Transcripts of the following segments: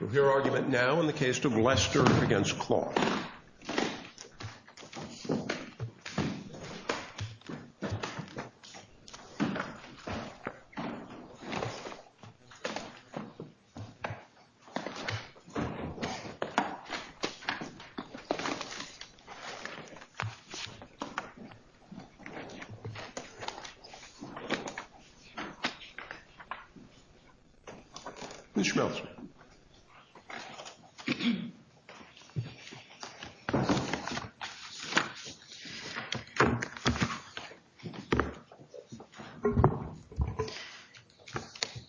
We'll hear argument now in the case of Lester v. Kloth. Mr. Schmeltz.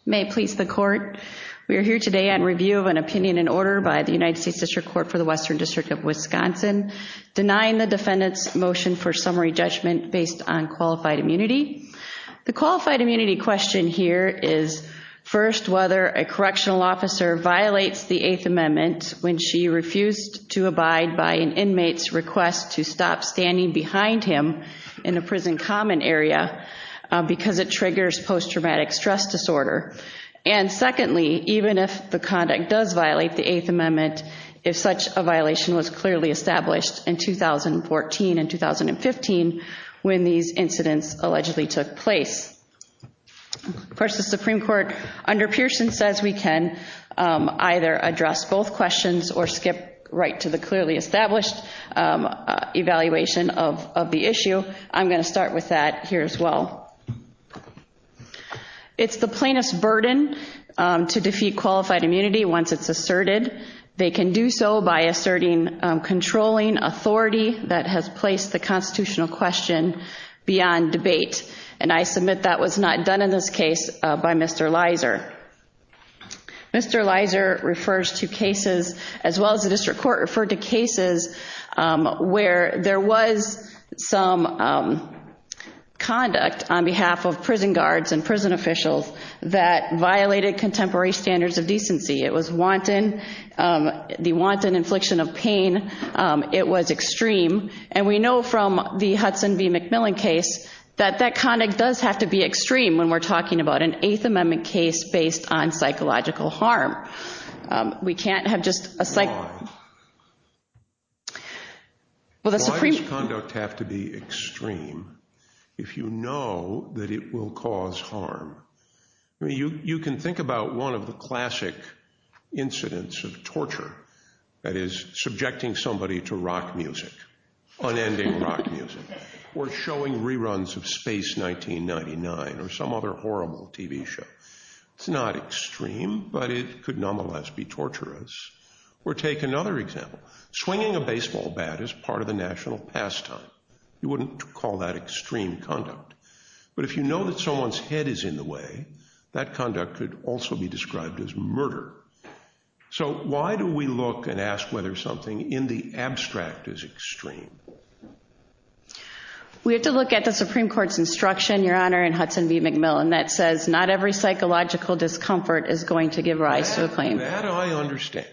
May it please the court, we are here today on review of an opinion in order by the United States District Court for the Western District of Wisconsin denying the defendant's motion for summary judgment based on qualified immunity. The qualified immunity question here is, first, whether a correctional officer violates the Eighth Amendment when she refused to abide by an inmate's request to stop standing behind him in a prison common area because it triggers post-traumatic stress disorder. And secondly, even if the conduct does violate the Eighth Amendment, if such a violation was clearly established in 2014 and 2015 when these incidents allegedly took place. Of course, the Supreme Court, under Pearson, says we can either address both questions or skip right to the clearly established evaluation of the issue. I'm going to start with that here as well. It's the plaintiff's burden to defeat qualified immunity once it's asserted. They can do so by asserting controlling authority that has placed the constitutional question beyond debate. And I submit that was not done in this case by Mr. Leiser. Mr. Leiser refers to cases, as well as the District Court, referred to cases where there was some conduct on behalf of prison guards and prison officials that violated contemporary standards of decency. It was wanton, the wanton infliction of pain. It was extreme. And we know from the Hudson v. McMillan case that that conduct does have to be extreme when we're talking about an Eighth Amendment case based on psychological harm. We can't have just a psych... Why? Well, the Supreme... Why does conduct have to be extreme if you know that it will cause harm? You can think about one of the classic incidents of torture, that is, subjecting somebody to rock music, unending rock music, or showing reruns of Space 1999 or some other horrible TV show. It's not extreme, but it could nonetheless be torturous. Or take another example, swinging a baseball bat is part of the national pastime. You wouldn't call that extreme conduct. But if you know that someone's head is in the way, that conduct could also be described as murder. So why do we look and ask whether something in the abstract is extreme? We have to look at the Supreme Court's instruction, Your Honor, in Hudson v. McMillan that says not every psychological discomfort is going to give rise to a claim. That I understand.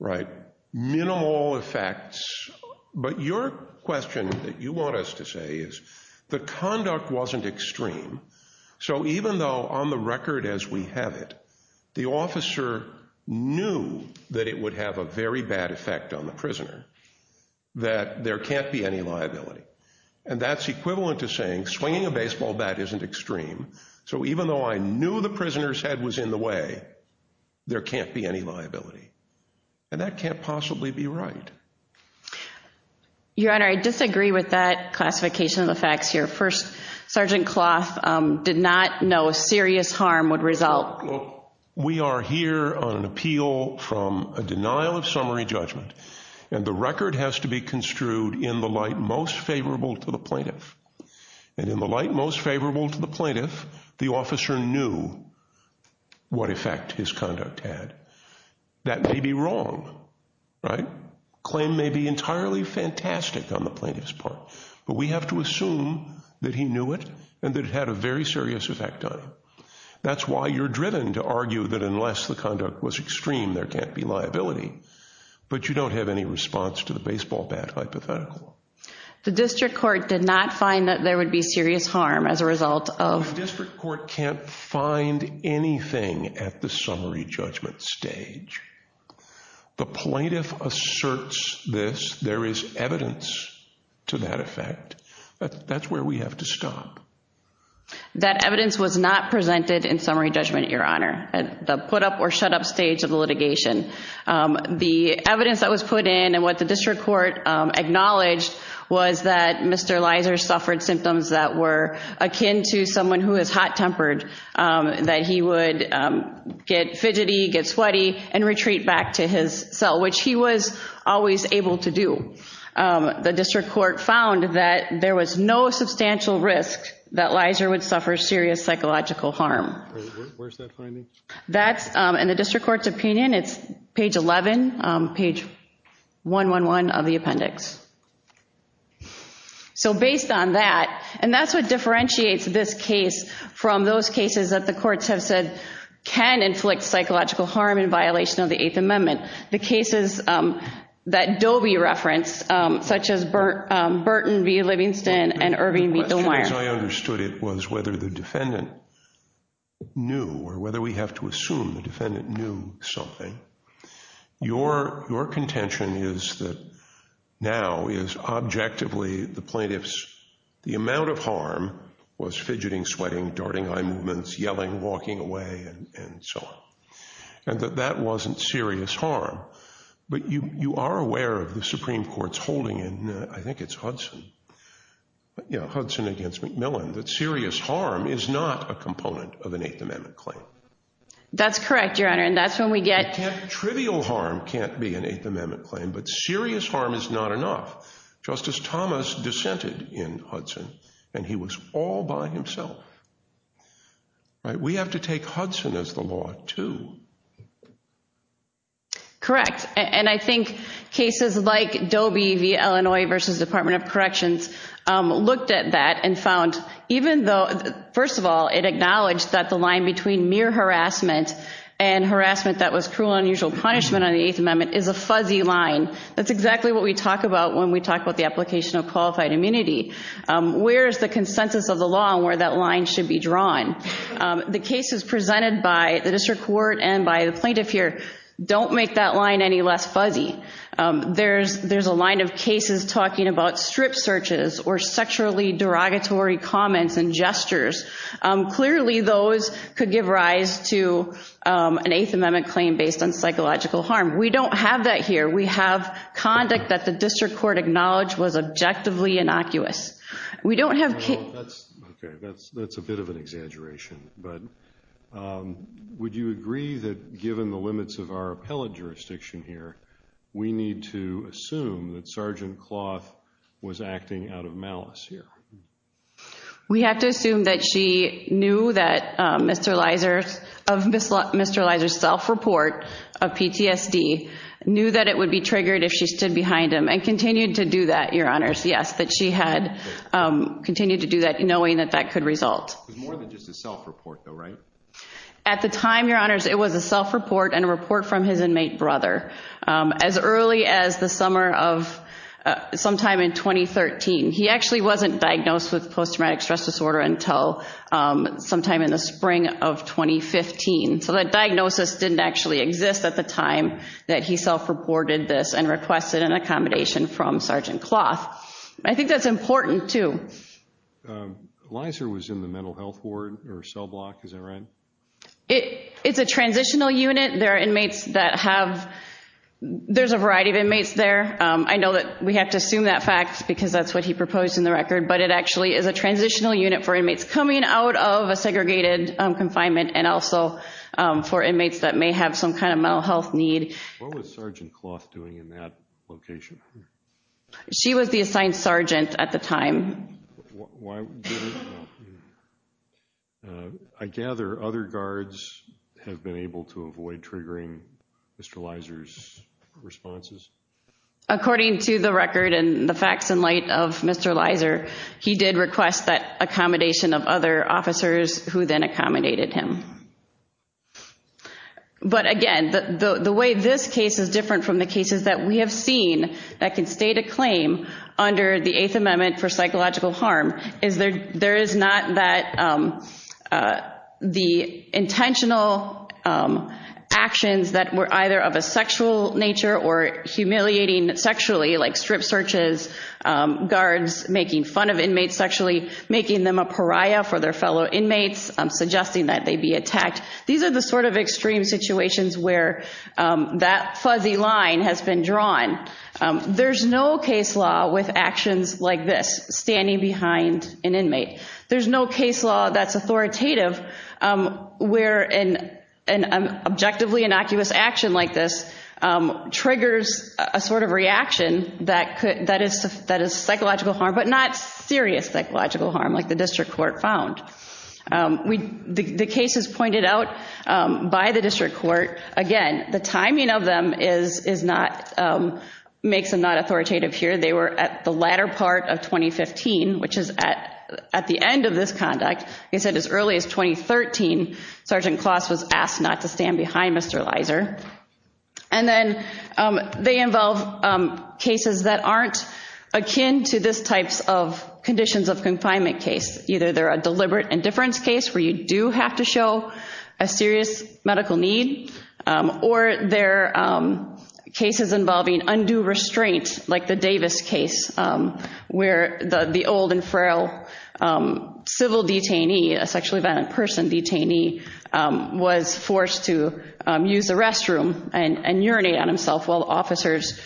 Right. Minimal effects. But your question that you want us to say is, the conduct wasn't extreme. So even though on the record as we have it, the officer knew that it would have a very bad effect on the prisoner, that there can't be any liability. And that's equivalent to saying, swinging a baseball bat isn't extreme. So even though I knew the prisoner's head was in the way, there can't be any liability. And that can't possibly be right. Your Honor, I disagree with that classification of the facts here. First, Sergeant Cloth did not know a serious harm would result. We are here on an appeal from a denial of summary judgment, and the record has to be construed in the light most favorable to the plaintiff. And in the light most favorable to the plaintiff, the officer knew what effect his conduct had. That may be wrong, right? Claim may be entirely fantastic on the plaintiff's part, but we have to assume that he knew it and that it had a very serious effect on him. That's why you're driven to argue that unless the conduct was extreme, there can't be liability. But you don't have any response to the baseball bat hypothetical. The district court did not find that there would be serious harm as a result of... The plaintiff asserts this. There is evidence to that effect. That's where we have to stop. That evidence was not presented in summary judgment, Your Honor, at the put up or shut up stage of the litigation. The evidence that was put in and what the district court acknowledged was that Mr. Leiser suffered symptoms that were akin to someone who is hot-tempered, that he would get fidgety, get sweaty, and retreat back to his cell, which he was always able to do. The district court found that there was no substantial risk that Leiser would suffer serious psychological harm. Where's that finding? In the district court's opinion, it's page 11, page 111 of the appendix. So based on that, and that's what differentiates this case from those cases that the courts have said can inflict psychological harm in violation of the Eighth Amendment, the cases that Dobie referenced, such as Burton v. Livingston and Irving v. Dunwire. The question, as I understood it, was whether the defendant knew or whether we have to assume the defendant knew something. Your contention is that now is objectively the plaintiff's... walking away and so on, and that that wasn't serious harm, but you are aware of the Supreme Court's holding in, I think it's Hudson, yeah, Hudson against McMillan, that serious harm is not a component of an Eighth Amendment claim. That's correct, Your Honor, and that's when we get... Trivial harm can't be an Eighth Amendment claim, but serious harm is not enough. Justice Thomas dissented in Hudson, and he was all by himself. We have to take Hudson as the law, too. Correct, and I think cases like Dobie v. Illinois v. Department of Corrections looked at that and found, even though, first of all, it acknowledged that the line between mere harassment and harassment that was cruel and unusual punishment on the Eighth Amendment is a fuzzy line. That's exactly what we talk about when we talk about the application of qualified immunity. Where is the consensus of the law where that line should be drawn? The cases presented by the district court and by the plaintiff here don't make that line any less fuzzy. There's a line of cases talking about strip searches or sexually derogatory comments and gestures. Clearly, those could give rise to an Eighth Amendment claim based on psychological harm. We don't have that here. We have conduct that the district court acknowledged was objectively innocuous. We don't have... That's a bit of an exaggeration, but would you agree that given the limits of our appellate jurisdiction here, we need to assume that Sergeant Cloth was acting out of malice here? We have to assume that she knew that Mr. Leiser's self-report of PTSD, knew that it would be triggered if she stood behind him and continued to do that, Your Honors, yes, that she had continued to do that knowing that that could result. It was more than just a self-report though, right? At the time, Your Honors, it was a self-report and a report from his inmate brother. As early as the summer of... Sometime in 2013. He actually wasn't diagnosed with post-traumatic stress disorder until sometime in the spring of 2015. So that diagnosis didn't actually exist at the time that he self-reported this and requested an accommodation from Sergeant Cloth. I think that's important too. Leiser was in the mental health ward or cell block, is that right? It's a transitional unit. There are inmates that have... There's a variety of inmates there. I know that we have to assume that fact because that's what he proposed in the record, but it actually is a transitional unit for inmates coming out of a segregated confinement and also for inmates that may have some kind of mental health need. What was Sergeant Cloth doing in that location? She was the assigned sergeant at the time. I gather other guards have been able to avoid triggering Mr. Leiser's responses? According to the record and the facts in light of Mr. Leiser, he did request that accommodation of other officers who then accommodated him. But again, the way this case is different from the cases that we have seen that can state a claim under the Eighth Amendment for psychological harm is there is not that... The intentional actions that were either of a sexual nature or humiliating sexually like strip searches, guards making fun of inmates sexually, making them a pariah for their fellow inmates, suggesting that they be attacked. These are the sort of extreme situations where that fuzzy line has been drawn. There's no case law with actions like this, standing behind an inmate. There's no case law that's authoritative where an objectively innocuous action like this triggers a sort of reaction that is psychological harm, but not serious psychological harm like the district court found. The cases pointed out by the district court, again, the timing of them is not... Makes them not authoritative here. They were at the latter part of 2015, which is at the end of this conduct. Like I said, as early as 2013, Sergeant Cloth was asked not to stand behind Mr. Leiser. And then they involve cases that aren't akin to this type of conditions of confinement case. Either they're a deliberate indifference case where you do have to show a serious medical need or they're cases involving undue restraint like the Davis case where the old and frail civil detainee, a sexually violent person detainee, was forced to use the restroom and urinate on himself while officers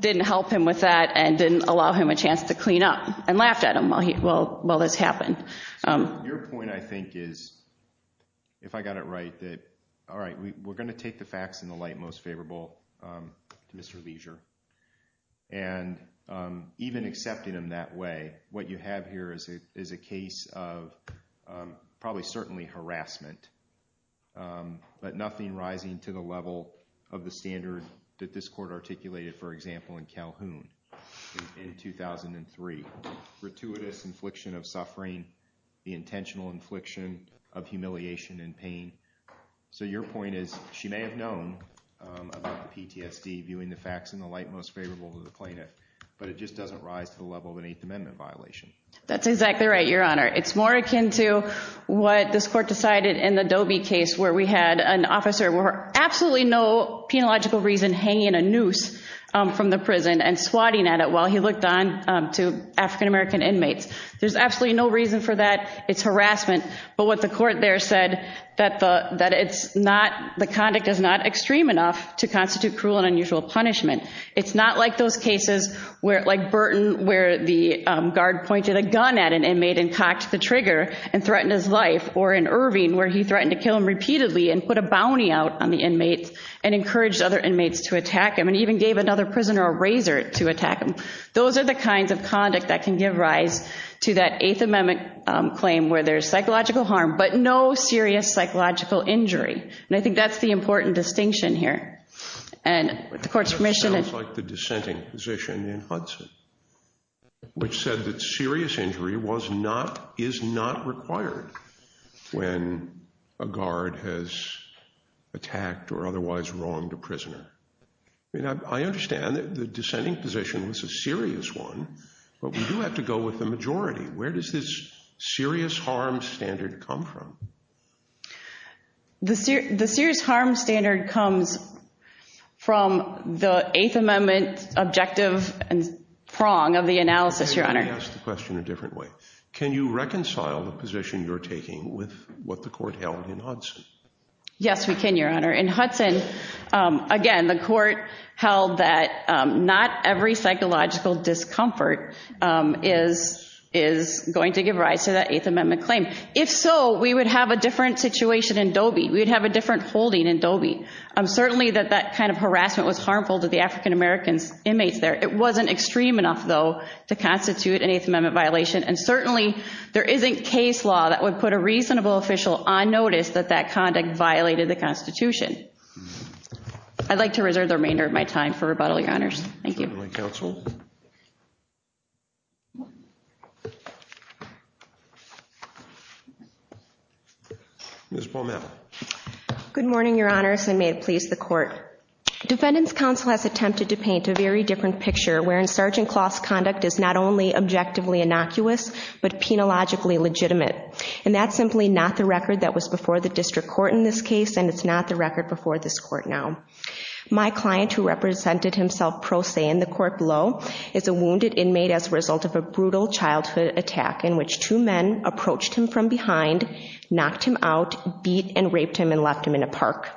didn't help him with that and didn't allow him a chance to clean up and laughed at him while this happened. Your point, I think, is, if I got it right, that, all right, we're going to take the facts in the light most favorable to Mr. Leiser. And even accepting him that way, what you have here is a case of probably certainly harassment, but nothing rising to the level of the standard that this court articulated, for example, in Calhoun in 2003, gratuitous infliction of suffering, the intentional infliction of humiliation and pain. So your point is, she may have known about the PTSD, viewing the facts in the light most favorable to the plaintiff, but it just doesn't rise to the level of an Eighth Amendment violation. That's exactly right, Your Honor. It's more akin to what this court decided in the Doby case where we had an officer for absolutely no penological reason hanging a noose from the prison and swatting at it while he looked on to African American inmates. There's absolutely no reason for that. It's harassment. But what the court there said, that the conduct is not extreme enough to constitute cruel and unusual punishment. It's not like those cases like Burton where the guard pointed a gun at an inmate and cocked the trigger and threatened his life, or in Irving where he threatened to kill him repeatedly and put a bounty out on the inmate and encouraged other inmates to attack him and even gave another prisoner a razor to attack him. Those are the kinds of conduct that can give rise to that Eighth Amendment claim where there's psychological harm, but no serious psychological injury. And I think that's the important distinction here. And with the court's permission... That sounds like the dissenting position in Hudson, which said that serious injury was not, is not required when a guard has attacked or otherwise wronged a prisoner. I understand that the dissenting position was a serious one, but we do have to go with the majority. Where does this serious harm standard come from? The serious harm standard comes from the Eighth Amendment objective and prong of the analysis, Your Honor. Let me ask the question a different way. Can you reconcile the position you're taking with what the court held in Hudson? Yes, we can, Your Honor. In Hudson, again, the court held that not every psychological discomfort is going to give rise to that Eighth Amendment claim. If so, we would have a different situation in Dobie. We'd have a different holding in Dobie. Certainly that that kind of harassment was harmful to the African-American inmates there. It wasn't extreme enough, though, to constitute an Eighth Amendment violation. And certainly there isn't case law that would put a reasonable official on notice that that would violate the Constitution. I'd like to reserve the remainder of my time for rebuttal, Your Honors. Thank you. Thank you, Counsel. Ms. Baumann. Good morning, Your Honors, and may it please the Court. Defendant's counsel has attempted to paint a very different picture, wherein Sergeant Closs' conduct is not only objectively innocuous, but penologically legitimate. And that's simply not the record that was before the district court in this case, and it's not the record before this court now. My client, who represented himself pro se in the court below, is a wounded inmate as a result of a brutal childhood attack in which two men approached him from behind, knocked him out, beat and raped him, and left him in a park.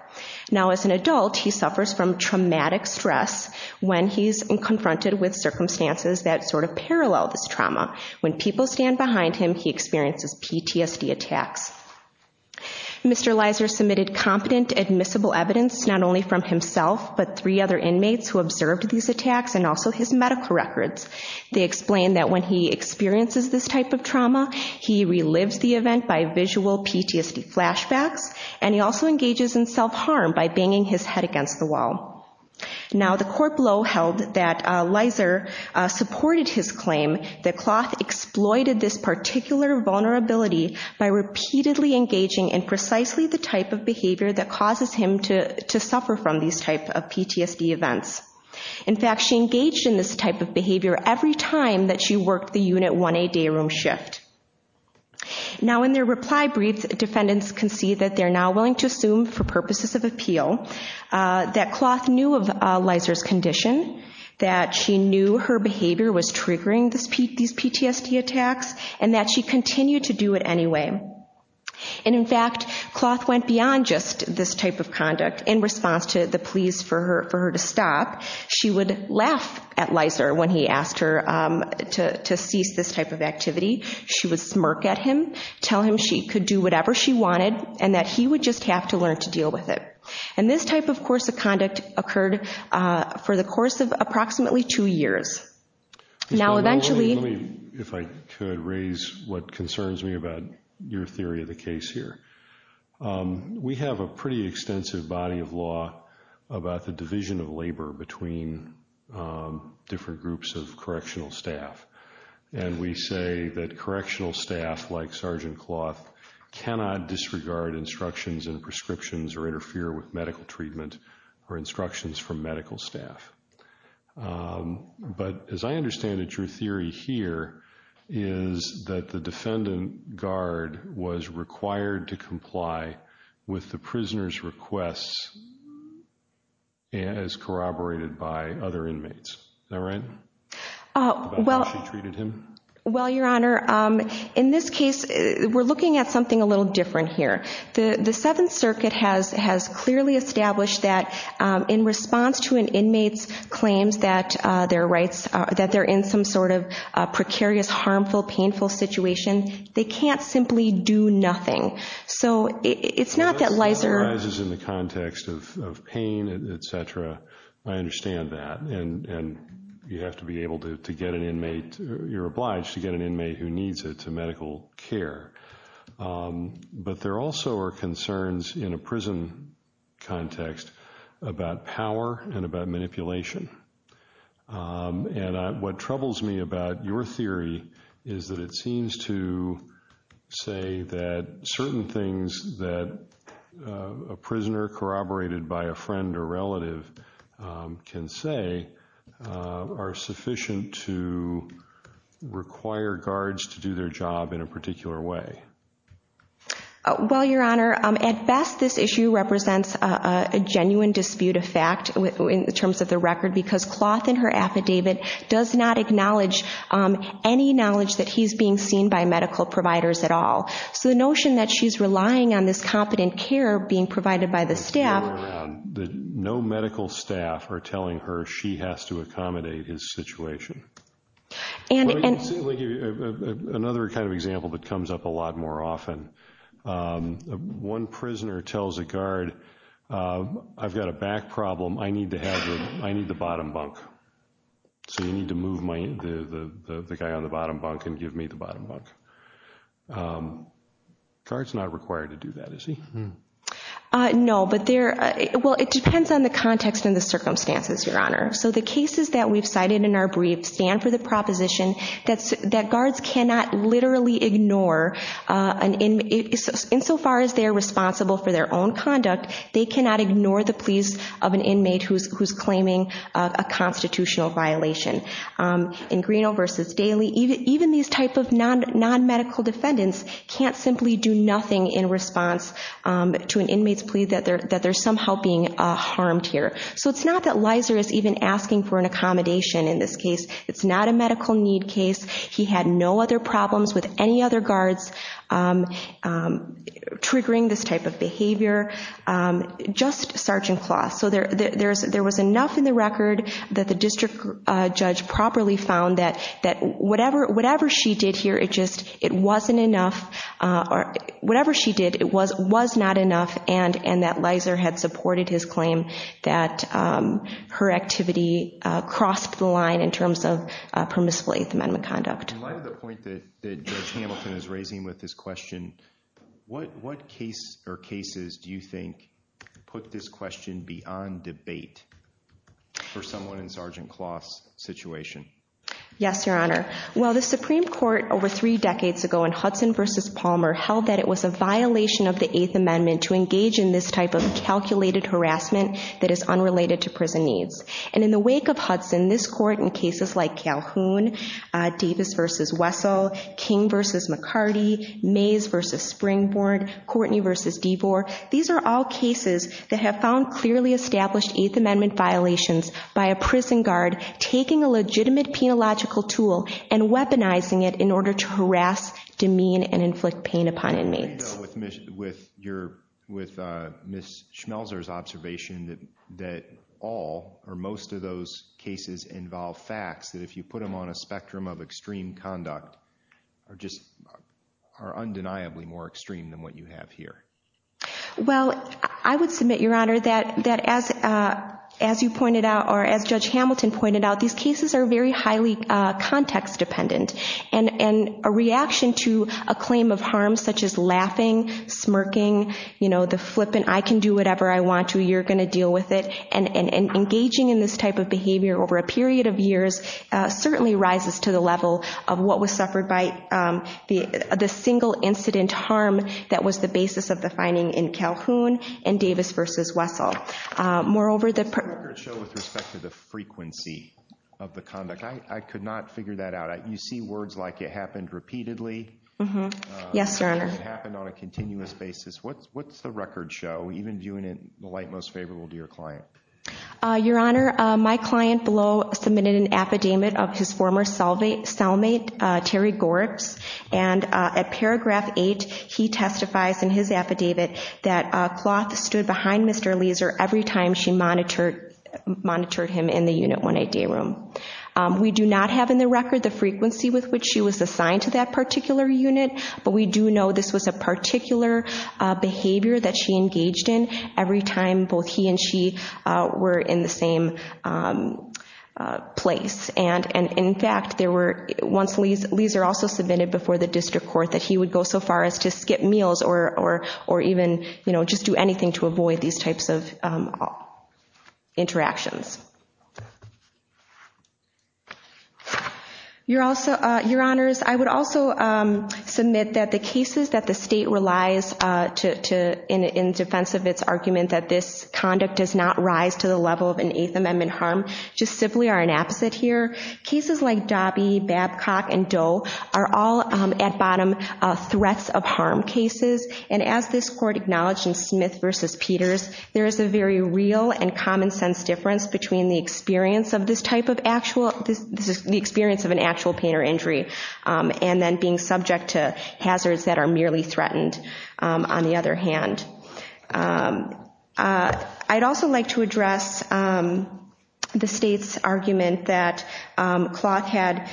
Now as an adult, he suffers from traumatic stress when he's confronted with circumstances that sort of parallel this trauma. When people stand behind him, he experiences PTSD attacks. Mr. Leiser submitted competent, admissible evidence, not only from himself, but three other inmates who observed these attacks, and also his medical records. They explained that when he experiences this type of trauma, he relives the event by visual PTSD flashbacks, and he also engages in self-harm by banging his head against the wall. Now the court below held that Leiser supported his claim that Closs exploited this particular vulnerability by repeatedly engaging in precisely the type of behavior that causes him to suffer from these type of PTSD events. In fact, she engaged in this type of behavior every time that she worked the Unit 1A day room shift. Now in their reply briefs, defendants can see that they're now willing to assume for purposes of appeal that Closs knew of Leiser's condition, that she knew her behavior was And in fact, Closs went beyond just this type of conduct. In response to the pleas for her to stop, she would laugh at Leiser when he asked her to cease this type of activity. She would smirk at him, tell him she could do whatever she wanted, and that he would just have to learn to deal with it. And this type of course of conduct occurred for the course of approximately two years. Now eventually... Let me, if I could, raise what concerns me about your theory of the case here. We have a pretty extensive body of law about the division of labor between different groups of correctional staff. And we say that correctional staff like Sergeant Cloth cannot disregard instructions and prescriptions or interfere with medical treatment or instructions from medical staff. But as I understand it, your theory here is that the defendant guard was required to comply with the prisoner's requests as corroborated by other inmates. Is that right? About how she treated him? Well, Your Honor, in this case, we're looking at something a little different here. The Seventh Circuit has clearly established that in response to an inmate's claims that they're in some sort of precarious, harmful, painful situation, they can't simply do nothing. So it's not that Leiser... That arises in the context of pain, et cetera. I understand that. And you have to be able to get an inmate, you're obliged to get an inmate who needs it to medical care. But there also are concerns in a prison context about power and about manipulation. And what troubles me about your theory is that it seems to say that certain things that a prisoner corroborated by a friend or relative can say are sufficient to require guards to do their job in a particular way. Well, Your Honor, at best, this issue represents a genuine dispute of fact in terms of the record because Cloth in her affidavit does not acknowledge any knowledge that he's being seen by medical providers at all. So the notion that she's relying on this competent care being provided by the staff... No medical staff are telling her she has to accommodate his situation. Let me give you another kind of example that comes up a lot more often. One prisoner tells a guard, I've got a back problem. I need to have the... I need the bottom bunk. So you need to move the guy on the bottom bunk and give me the bottom bunk. Guard's not required to do that, is he? No, but there... Well, it depends on the context and the circumstances, Your Honor. So the cases that we've cited in our brief stand for the proposition that guards cannot literally ignore an inmate... In so far as they're responsible for their own conduct, they cannot ignore the pleas of an inmate who's claiming a constitutional violation. In Greeno versus Daly, even these type of non-medical defendants can't simply do nothing in response to an inmate's plea that they're somehow being harmed here. So it's not that Leiser is even asking for an accommodation in this case. It's not a medical need case. He had no other problems with any other guards triggering this type of behavior. Just Sergeant Closs. So there was enough in the record that the district judge properly found that whatever she did here, it just wasn't enough. Whatever she did, it was not enough, and that Leiser had supported his claim that her activity crossed the line in terms of permissible Eighth Amendment conduct. In light of the point that Judge Hamilton is raising with this question, what case or cases do you think put this question beyond debate for someone in Sergeant Closs' situation? Yes, Your Honor. Well, the Supreme Court over three decades ago in Hudson versus Palmer held that it was a violation of the Eighth Amendment to engage in this type of calculated harassment that is unrelated to prison needs. And in the wake of Hudson, this court in cases like Calhoun, Davis versus Wessel, King versus McCarty, Mays versus Springboard, Courtney versus Devor, these are all cases that have found clearly established Eighth Amendment violations by a prison guard taking a legitimate penological tool and weaponizing it in order to harass, demean, and inflict pain upon inmates. With Ms. Schmelzer's observation that all or most of those cases involve facts that if you put them on a spectrum of extreme conduct are just undeniably more extreme than what you have here. Well, I would submit, Your Honor, that as you pointed out or as Judge Hamilton pointed out, these cases are very highly context dependent. And a reaction to a claim of harm such as laughing, smirking, you know, the flippant I can do whatever I want to, you're going to deal with it, and engaging in this type of behavior over a period of years certainly rises to the level of what was suffered by the single incident harm that was the basis of the finding in Calhoun and Davis versus Wessel. Does the record show with respect to the frequency of the conduct? I could not figure that out. You see words like it happened repeatedly. Yes, Your Honor. It happened on a continuous basis. What's the record show, even viewing it in the light most favorable to your client? Your Honor, my client below submitted an affidavit of his former cellmate, Terry Gorups, and at paragraph 8, he testifies in his affidavit that a cloth stood behind Mr. Leeser every time she monitored him in the Unit 188 room. We do not have in the record the frequency with which she was assigned to that particular unit, but we do know this was a particular behavior that she engaged in every time both he and she were in the same place. In fact, once Leeser also submitted before the district court that he would go so far as to skip meals or even just do anything to avoid these types of interactions. Your Honors, I would also submit that the cases that the state relies in defense of its argument that this conduct does not rise to the level of an Eighth Amendment harm just simply are an opposite here. Cases like Dobby, Babcock, and Doe are all at bottom threats of harm cases, and as this court acknowledged in Smith v. Peters, there is a very real and common sense difference between the experience of an actual pain or injury and then being subject to hazards that are merely threatened, on the other hand. I'd also like to address the state's argument that Clough had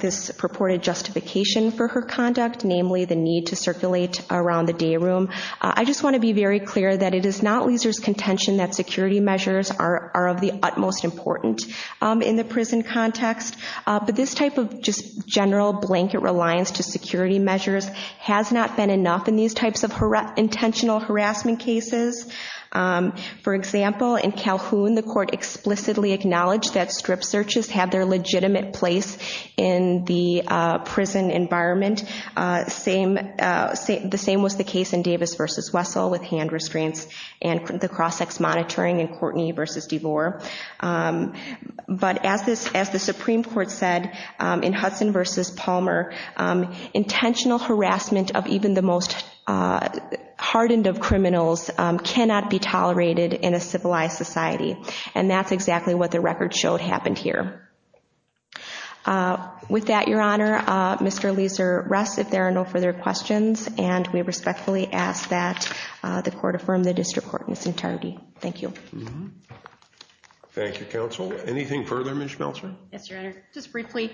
this purported justification for her conduct, namely the need to circulate around the day room. I just want to be very clear that it is not Leeser's contention that security measures are of the utmost importance in the prison context, but this type of just general blanket reliance to security measures has not been enough in these types of intentional harassment cases. For example, in Calhoun, the court explicitly acknowledged that strip searches have their legitimate place in the prison environment. The same was the case in Davis v. Wessel with hand restraints and the cross-ex monitoring in Courtney v. DeVore. But as the Supreme Court said in Hudson v. Palmer, intentional harassment of even the most hardened of criminals cannot be tolerated in a civilized society, and that's exactly what the record showed happened here. With that, Your Honor, Mr. Leeser rests if there are no further questions, and we respectfully ask that the court affirm the district court in its entirety. Thank you. Thank you, Counsel. Anything further, Ms. Schmeltzer? Yes, Your Honor. Just briefly,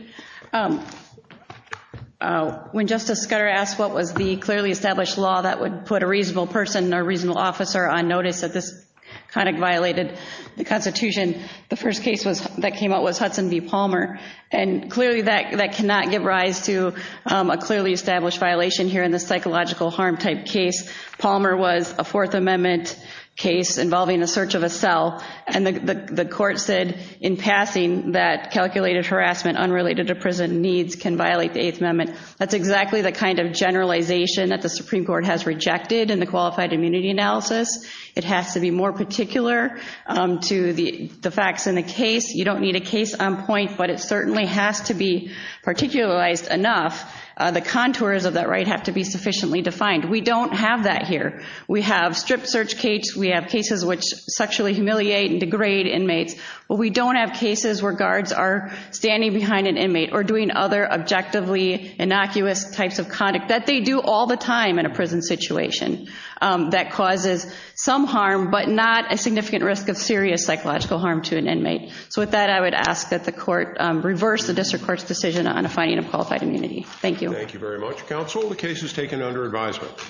when Justice Scutter asked what was the clearly established law that would put a reasonable person or reasonable officer on notice that this kind of violated the Constitution, the first case that came out was Hudson v. Palmer, and clearly that cannot give rise to a clearly established violation here in this psychological harm type case. Palmer was a Fourth Amendment case involving the search of a cell, and the court said in passing that calculated harassment unrelated to prison needs can violate the Eighth Amendment. That's exactly the kind of generalization that the Supreme Court has rejected in the qualified immunity analysis. It has to be more particular to the facts in the case. You don't need a case on point, but it certainly has to be particularized enough. The contours of that right have to be sufficiently defined. We don't have that here. We have stripped search cases. We have cases which sexually humiliate and degrade inmates, but we don't have cases where guards are standing behind an inmate or doing other objectively innocuous types of conduct that they do all the time in a prison situation that causes some harm but not a significant risk of serious psychological harm to an inmate. So with that, I would ask that the court reverse the district court's decision on a finding of qualified immunity. Thank you. Thank you very much, Counsel. The case is taken under advisement.